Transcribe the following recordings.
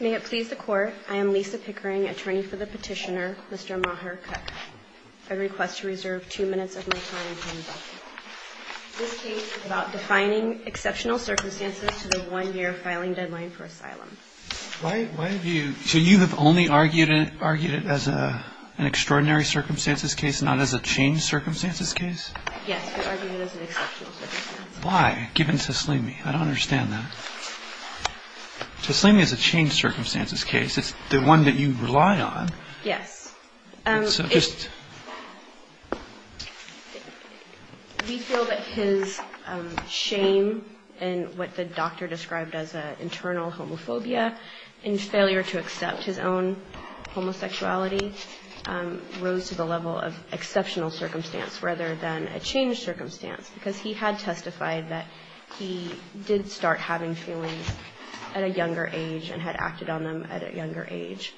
May it please the Court, I am Lisa Pickering, attorney for the petitioner, Mr. Maher Kutkut. I request to reserve two minutes of my time. This case is about defining exceptional circumstances to the one-year filing deadline for asylum. Why have you – so you have only argued it as an extraordinary circumstances case, not as a changed circumstances case? Yes, we argued it as an exceptional circumstances case. Why, given Taslimi? I don't understand that. Taslimi is a changed circumstances case. It's the one that you rely on. Yes. So just – We feel that his shame in what the doctor described as an internal homophobia and failure to accept his own homosexuality rose to the level of exceptional circumstance rather than a changed circumstance because he had testified that he did start having feelings at a younger age and had acted on them at a younger age.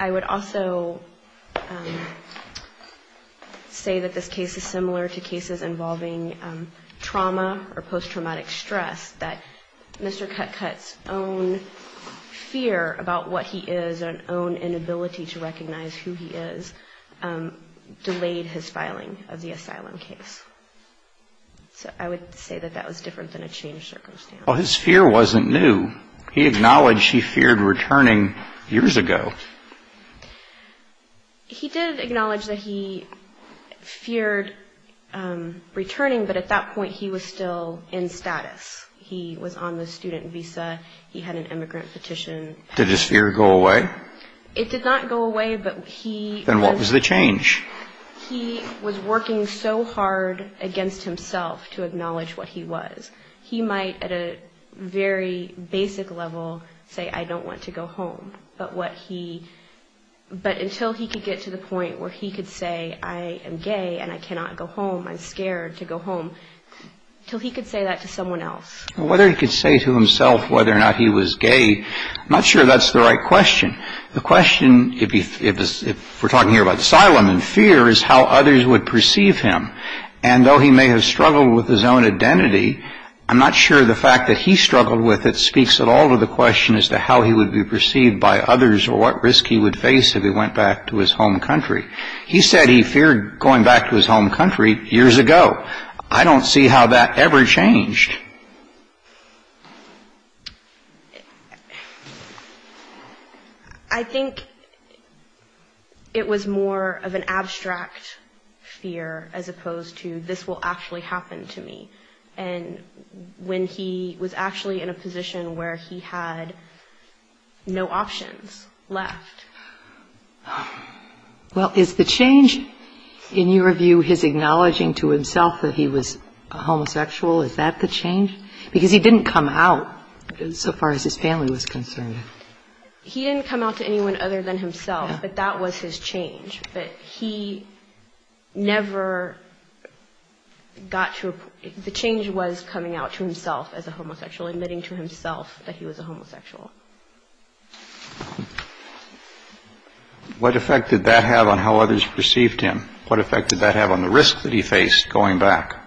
I would also say that this case is similar to cases involving trauma or post-traumatic stress, that Mr. Kutkut's own fear about what he is and own inability to recognize who he is delayed his filing of the asylum case. So I would say that that was different than a changed circumstance. Well, his fear wasn't new. He acknowledged he feared returning years ago. He did acknowledge that he feared returning, but at that point he was still in status. He was on the student visa. He had an immigrant petition. Did his fear go away? It did not go away, but he – Then what was the change? He was working so hard against himself to acknowledge what he was. He might at a very basic level say, I don't want to go home, but what he – but until he could get to the point where he could say, I am gay and I cannot go home, I'm scared to go home, until he could say that to someone else. Whether he could say to himself whether or not he was gay, I'm not sure that's the right question. The question, if we're talking here about asylum and fear, is how others would perceive him. And though he may have struggled with his own identity, I'm not sure the fact that he struggled with it speaks at all to the question as to how he would be perceived by others or what risk he would face if he went back to his home country. He said he feared going back to his home country years ago. I don't see how that ever changed. I think it was more of an abstract fear as opposed to this will actually happen to me. And when he was actually in a position where he had no options left. Well, is the change in your view his acknowledging to himself that he was a homosexual, is that the change? Because he didn't come out so far as his family was concerned. He didn't come out to anyone other than himself, but that was his change. But he never got to the change was coming out to himself as a homosexual, admitting to himself that he was a homosexual. What effect did that have on how others perceived him? What effect did that have on the risk that he faced going back?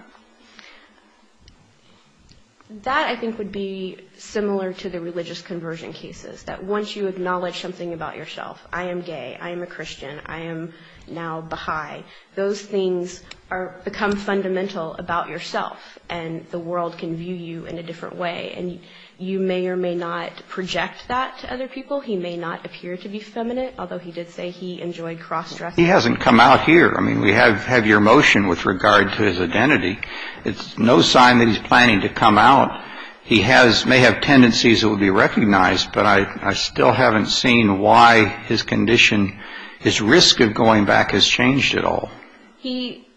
That I think would be similar to the religious conversion cases, that once you acknowledge something about yourself, I am gay, I am a Christian, I am now Baha'i, those things become fundamental about yourself and the world can view you in a different way. And you may or may not project that to other people. He may not appear to be feminine, although he did say he enjoyed cross-dressing. He hasn't come out here. I mean, we have your motion with regard to his identity. It's no sign that he's planning to come out. He may have tendencies that will be recognized, but I still haven't seen why his condition, his risk of going back has changed at all. He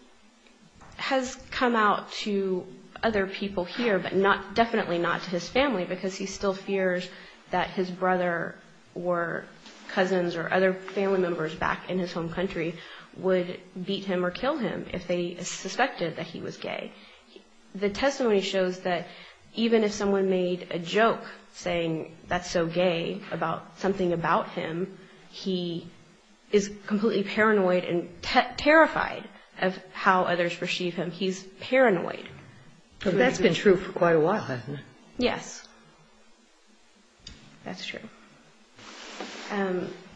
has come out to other people here, but definitely not to his family because he still fears that his brother or cousins or other family members back in his home country would beat him or kill him if they suspected that he was gay. The testimony shows that even if someone made a joke saying that's so gay about something about him, he is completely paranoid and terrified of how others perceive him. He's paranoid. That's been true for quite a while, hasn't it? Yes, that's true.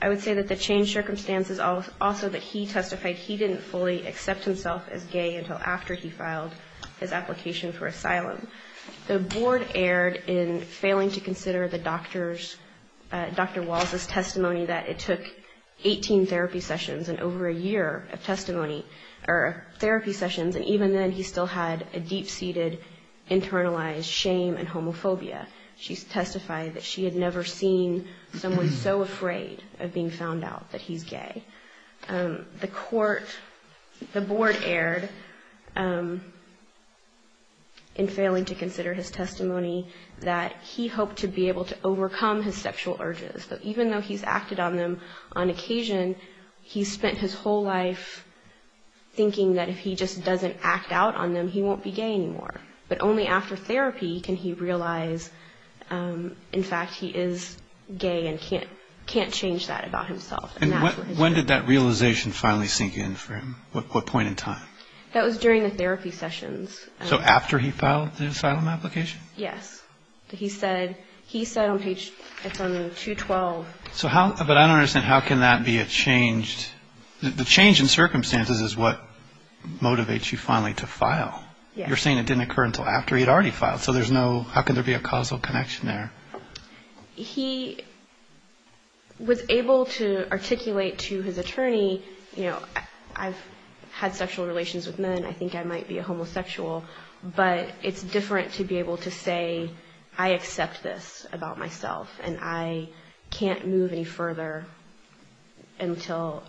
I would say that the changed circumstances also that he testified he didn't fully accept himself as gay until after he filed his application for asylum. The board erred in failing to consider Dr. Walz's testimony that it took 18 therapy sessions and over a year of therapy sessions, and even then he still had a deep-seated, internalized shame and homophobia. She testified that she had never seen someone so afraid of being found out that he's gay. The court, the board erred in failing to consider his testimony that he hoped to be able to overcome his sexual urges. Even though he's acted on them on occasion, he spent his whole life thinking that if he just doesn't act out on them, he won't be gay anymore. But only after therapy can he realize, in fact, he is gay and can't change that about himself. And when did that realization finally sink in for him? What point in time? That was during the therapy sessions. So after he filed the asylum application? Yes. He said on page, it's on 212. So how, but I don't understand, how can that be a changed, the change in circumstances is what motivates you finally to file. You're saying it didn't occur until after he had already filed, so there's no, how can there be a causal connection there? He was able to articulate to his attorney, you know, I've had sexual relations with men, I think I might be a homosexual, but it's different to be able to say, I accept this about myself and I can't move any further until,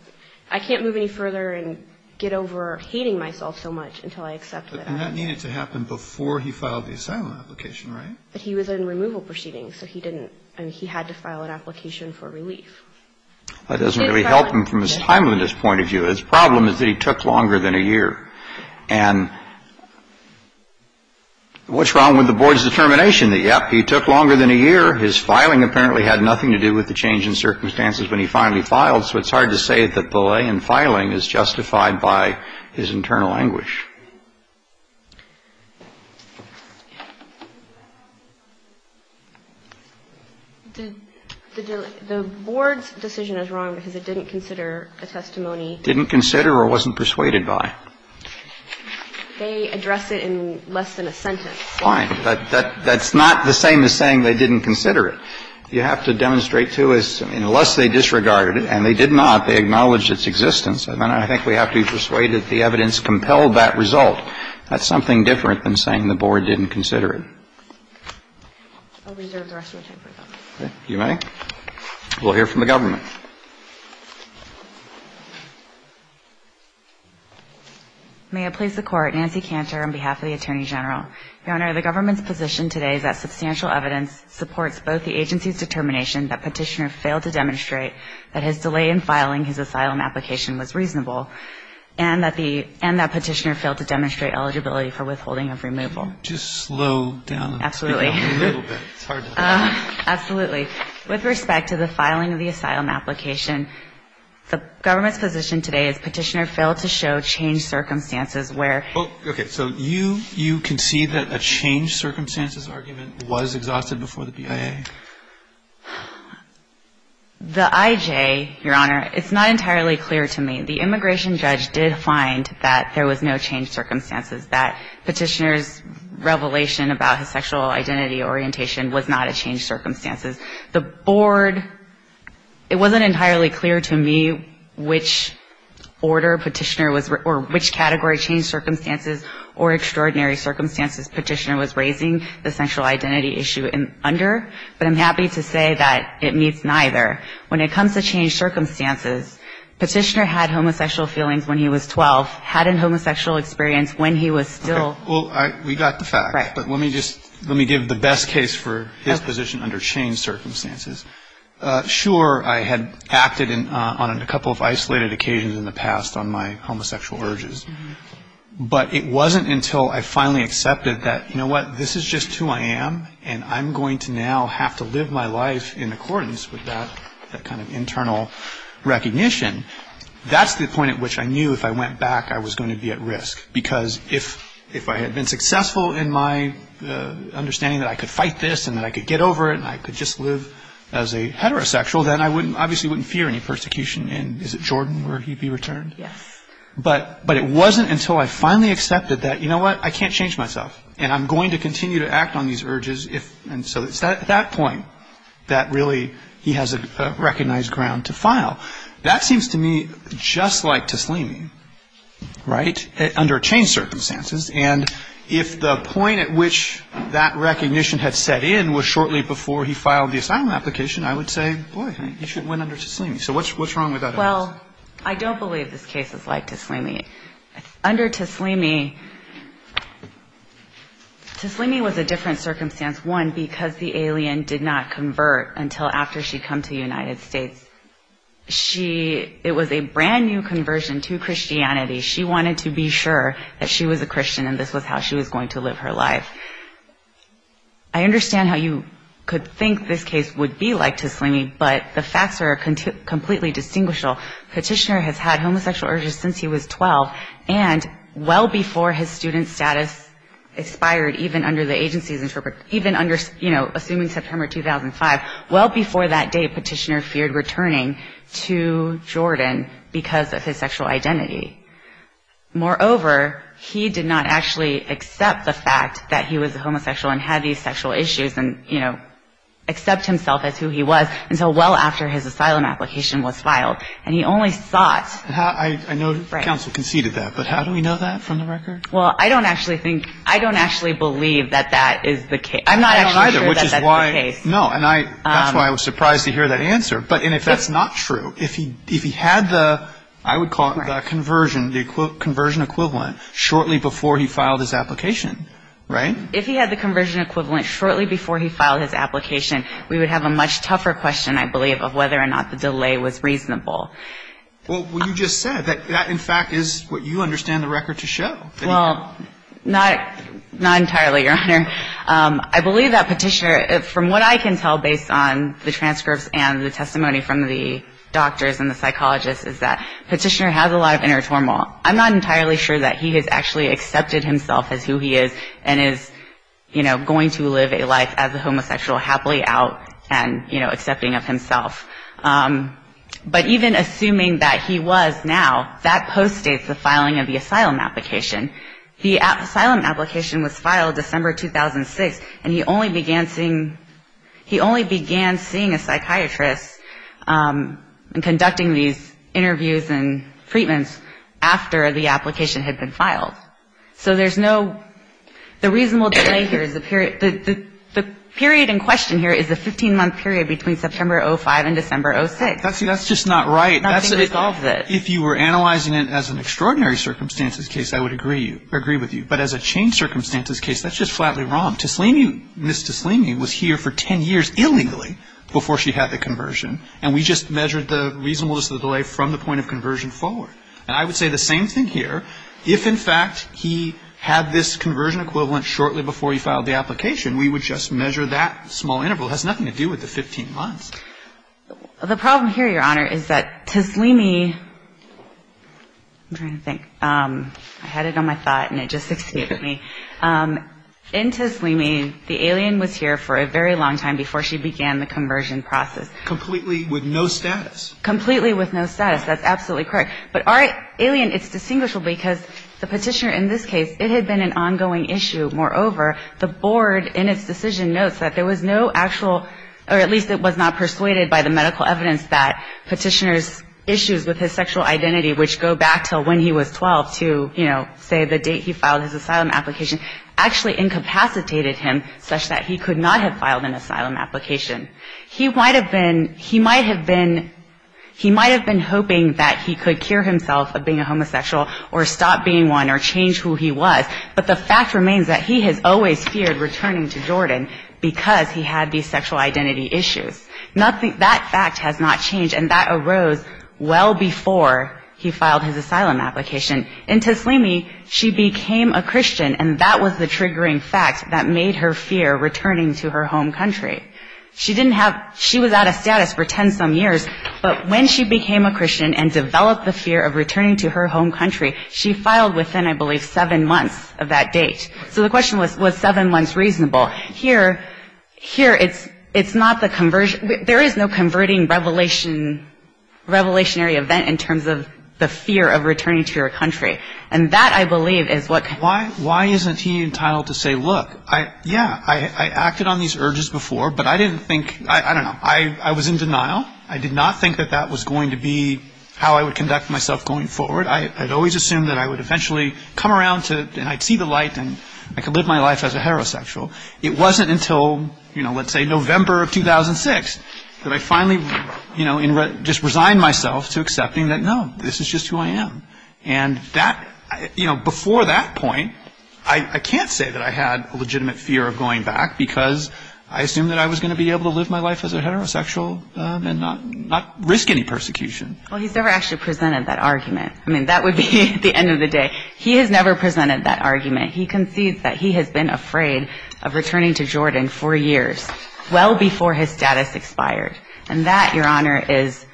I can't move any further and get over hating myself so much until I accept that. And that needed to happen before he filed the asylum application, right? But he was in removal proceedings, so he didn't, I mean, he had to file an application for relief. That doesn't really help him from his timeliness point of view. His problem is that he took longer than a year. And what's wrong with the board's determination that, yep, he took longer than a year, his filing apparently had nothing to do with the change in circumstances when he finally filed, so it's hard to say that delay in filing is justified by his internal anguish. The board's decision is wrong because it didn't consider a testimony. Didn't consider or wasn't persuaded by. They addressed it in less than a sentence. Fine, but that's not the same as saying they didn't consider it. You have to demonstrate to us, I mean, unless they disregarded it, and they did not, they acknowledged its existence. And then I think we have to be persuaded that the evidence compelled that result. That's something different than saying the board didn't consider it. I'll reserve the rest of my time for that. Okay. You may. We'll hear from the government. May it please the Court, Nancy Cantor on behalf of the Attorney General. Your Honor, the government's position today is that substantial evidence supports both the agency's determination that Petitioner failed to demonstrate that his delay in filing his asylum application was reasonable and that Petitioner failed to demonstrate eligibility for withholding of removal. Just slow down. Absolutely. A little bit. It's hard to talk. Absolutely. With respect to the filing of the asylum application, the government's position today is Petitioner failed to show changed circumstances where. Okay. So you concede that a changed circumstances argument was exhausted before the BIA? The IJ, Your Honor, it's not entirely clear to me. The immigration judge did find that there was no changed circumstances, that Petitioner's revelation about his sexual identity orientation was not a changed circumstances. The board, it wasn't entirely clear to me which order Petitioner was, or which category changed circumstances or extraordinary circumstances Petitioner was raising the sexual identity issue under. But I'm happy to say that it meets neither. When it comes to changed circumstances, Petitioner had homosexual feelings when he was 12, had a homosexual experience when he was still. Well, we got the fact. Right. But let me just, let me give the best case for his position under changed circumstances. Sure, I had acted on a couple of isolated occasions in the past on my homosexual urges. But it wasn't until I finally accepted that, you know what, this is just who I am, and I'm going to now have to live my life in accordance with that kind of internal recognition. That's the point at which I knew if I went back, I was going to be at risk. Because if I had been successful in my understanding that I could fight this and that I could get over it and I could just live as a heterosexual, then I obviously wouldn't fear any persecution. And is it Jordan where he'd be returned? Yes. But it wasn't until I finally accepted that, you know what, I can't change myself, and I'm going to continue to act on these urges. And so it's at that point that really he has a recognized ground to file. That seems to me just like Taslimi, right, under changed circumstances. And if the point at which that recognition had set in was shortly before he filed the asylum application, I would say, boy, you should have went under Taslimi. So what's wrong with that? Well, I don't believe this case is like Taslimi. Under Taslimi, Taslimi was a different circumstance, one, because the alien did not convert until after she'd come to the United States. It was a brand-new conversion to Christianity. She wanted to be sure that she was a Christian and this was how she was going to live her life. I understand how you could think this case would be like Taslimi, but the facts are completely distinguishable. Petitioner has had homosexual urges since he was 12, and well before his student status expired even under the agency's interpretation, even under, you know, assuming September 2005, well before that day, Petitioner feared returning to Jordan because of his sexual identity. Moreover, he did not actually accept the fact that he was homosexual and had these sexual issues and, you know, accept himself as who he was until well after his asylum application was filed. And he only sought... I know counsel conceded that, but how do we know that from the record? Well, I don't actually think, I don't actually believe that that is the case. I'm not actually sure that that's the case. No, and that's why I was surprised to hear that answer. But if that's not true, if he had the, I would call it the conversion, the conversion equivalent shortly before he filed his application, right? If he had the conversion equivalent shortly before he filed his application, we would have a much tougher question, I believe, of whether or not the delay was reasonable. Well, what you just said, that in fact is what you understand the record to show. Well, not entirely, Your Honor. I believe that Petitioner, from what I can tell based on the transcripts and the testimony from the doctors and the psychologists, is that Petitioner has a lot of inner turmoil. I'm not entirely sure that he has actually accepted himself as who he is and is, you know, going to live a life as a homosexual happily out and, you know, accepting of himself. But even assuming that he was now, that post-states the filing of the asylum application. The asylum application was filed December 2006, and he only began seeing a psychiatrist conducting these interviews and treatments after the application had been filed. So there's no, the reasonable delay here is the period, the period in question here is the 15-month period between September 2005 and December 2006. That's just not right. If you were analyzing it as an extraordinary circumstances case, I would agree. I agree with you. But as a changed circumstances case, that's just flatly wrong. Taslimi, Ms. Taslimi was here for 10 years illingly before she had the conversion, and we just measured the reasonableness of the delay from the point of conversion forward. And I would say the same thing here. If, in fact, he had this conversion equivalent shortly before he filed the application, we would just measure that small interval. It has nothing to do with the 15 months. The problem here, Your Honor, is that Taslimi, I'm trying to think. I had it on my thought, and it just succeeded me. In Taslimi, the alien was here for a very long time before she began the conversion process. Completely with no status. Completely with no status. That's absolutely correct. But our alien, it's distinguishable because the petitioner in this case, it had been an ongoing issue. Moreover, the board in its decision notes that there was no actual, or at least it was not persuaded by the medical evidence that petitioner's issues with his sexual identity, which go back to when he was 12 to, you know, say the date he filed his asylum application, actually incapacitated him such that he could not have filed an asylum application. He might have been hoping that he could cure himself of being a homosexual or stop being one or change who he was, but the fact remains that he has always feared returning to Jordan because he had these sexual identity issues. That fact has not changed, and that arose well before he filed his asylum application. In Taslimi, she became a Christian, and that was the triggering fact that made her fear returning to her home country. She was out of status for 10-some years, but when she became a Christian and developed the fear of returning to her home country, she filed within, I believe, seven months of that date. So the question was, was seven months reasonable? Here, it's not the conversion. There is no converting revelation, revelationary event in terms of the fear of returning to your country, and that, I believe, is what... Why isn't he entitled to say, look, yeah, I acted on these urges before, but I didn't think, I don't know, I was in denial. I did not think that that was going to be how I would conduct myself going forward. I had always assumed that I would eventually come around to, and I'd see the light and I could live my life as a heterosexual. It wasn't until, you know, let's say November of 2006 that I finally, you know, just resigned myself to accepting that, no, this is just who I am. And that, you know, before that point, I can't say that I had a legitimate fear of going back because I assumed that I was going to be able to live my life as a heterosexual and not risk any persecution. Well, he's never actually presented that argument. I mean, that would be the end of the day. He has never presented that argument. He concedes that he has been afraid of returning to Jordan for years, well before his status expired. And that, Your Honor, is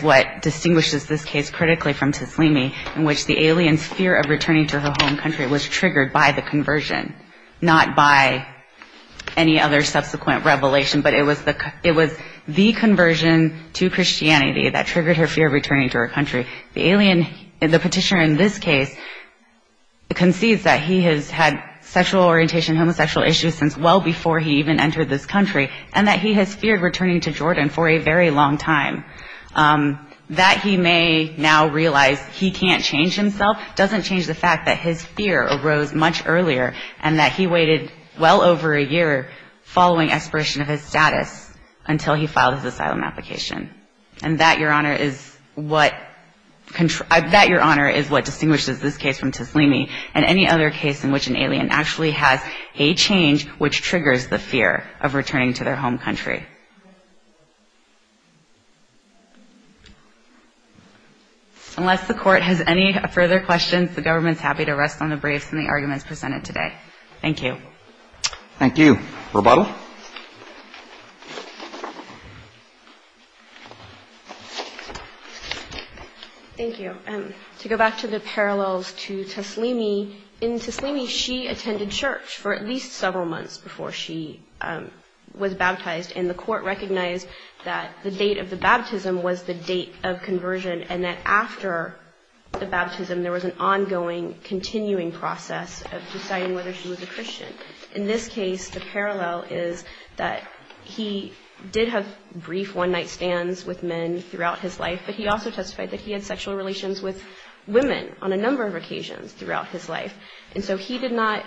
what distinguishes this case critically from Taslimi in which the alien's fear of returning to her home country was triggered by the conversion, not by any other subsequent revelation, but it was the conversion to Christianity that triggered her fear of returning to her country. The alien, the petitioner in this case, concedes that he has had sexual orientation, homosexual issues since well before he even entered this country and that he has feared returning to Jordan for a very long time. That he may now realize he can't change himself doesn't change the fact that his fear arose much earlier and that he waited well over a year following expiration of his status until he filed his asylum application. And that, Your Honor, is what distinguishes this case from Taslimi and any other case in which an alien actually has a change which triggers the fear of returning to their home country. Unless the Court has any further questions, the government is happy to rest on the briefs and the arguments presented today. Thank you. Thank you. Thank you. Rebuttal. Thank you. To go back to the parallels to Taslimi, in Taslimi she attended church for at least several months before she was baptized and the Court recognized that the date of the baptism was the date of conversion and that after the baptism there was an ongoing, continuing process of deciding whether she was a Christian. In this case, the parallel is that he did have brief one-night stands with men throughout his life, but he also testified that he had sexual relations with women on a number of occasions throughout his life. And so he did not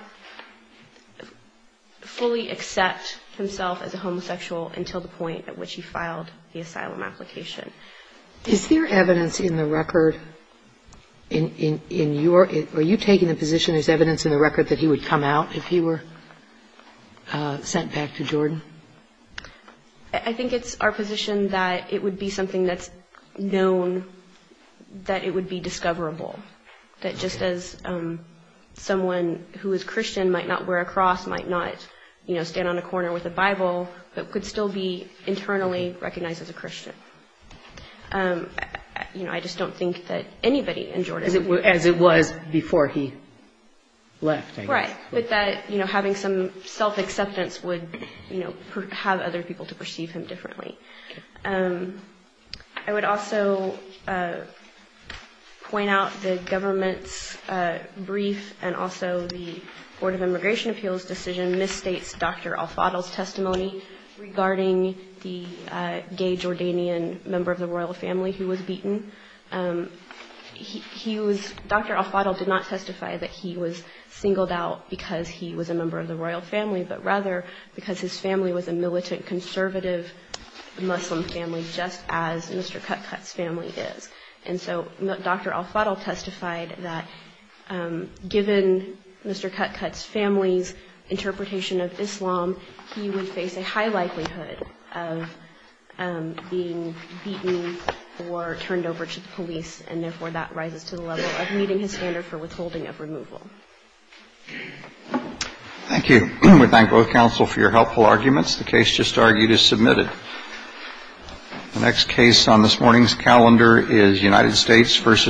fully accept himself as a homosexual until the point at which he filed the asylum application. Is there evidence in the record in your – are you taking the position there's evidence in the record that he would come out if he were sent back to Jordan? I think it's our position that it would be something that's known, that it would be discoverable, that just as someone who is Christian might not wear a cross, but could still be internally recognized as a Christian. You know, I just don't think that anybody in Jordan would. As it was before he left, I guess. Right. But that, you know, having some self-acceptance would, you know, have other people to perceive him differently. I would also point out the government's brief and also the Board of Immigration Appeals' decision misstates Dr. Al-Fadl's testimony regarding the gay Jordanian member of the royal family who was beaten. He was – Dr. Al-Fadl did not testify that he was singled out because he was a member of the royal family, but rather because his family was a militant conservative Muslim family, just as Mr. Cutcut's family is. And so Dr. Al-Fadl testified that given Mr. Cutcut's family's interpretation of Islam, he would face a high likelihood of being beaten or turned over to the police, and therefore that rises to the level of meeting his standard for withholding of removal. Thank you. We thank both counsel for your helpful arguments. The case just argued is submitted. The next case on this morning's calendar is United States v. Russia.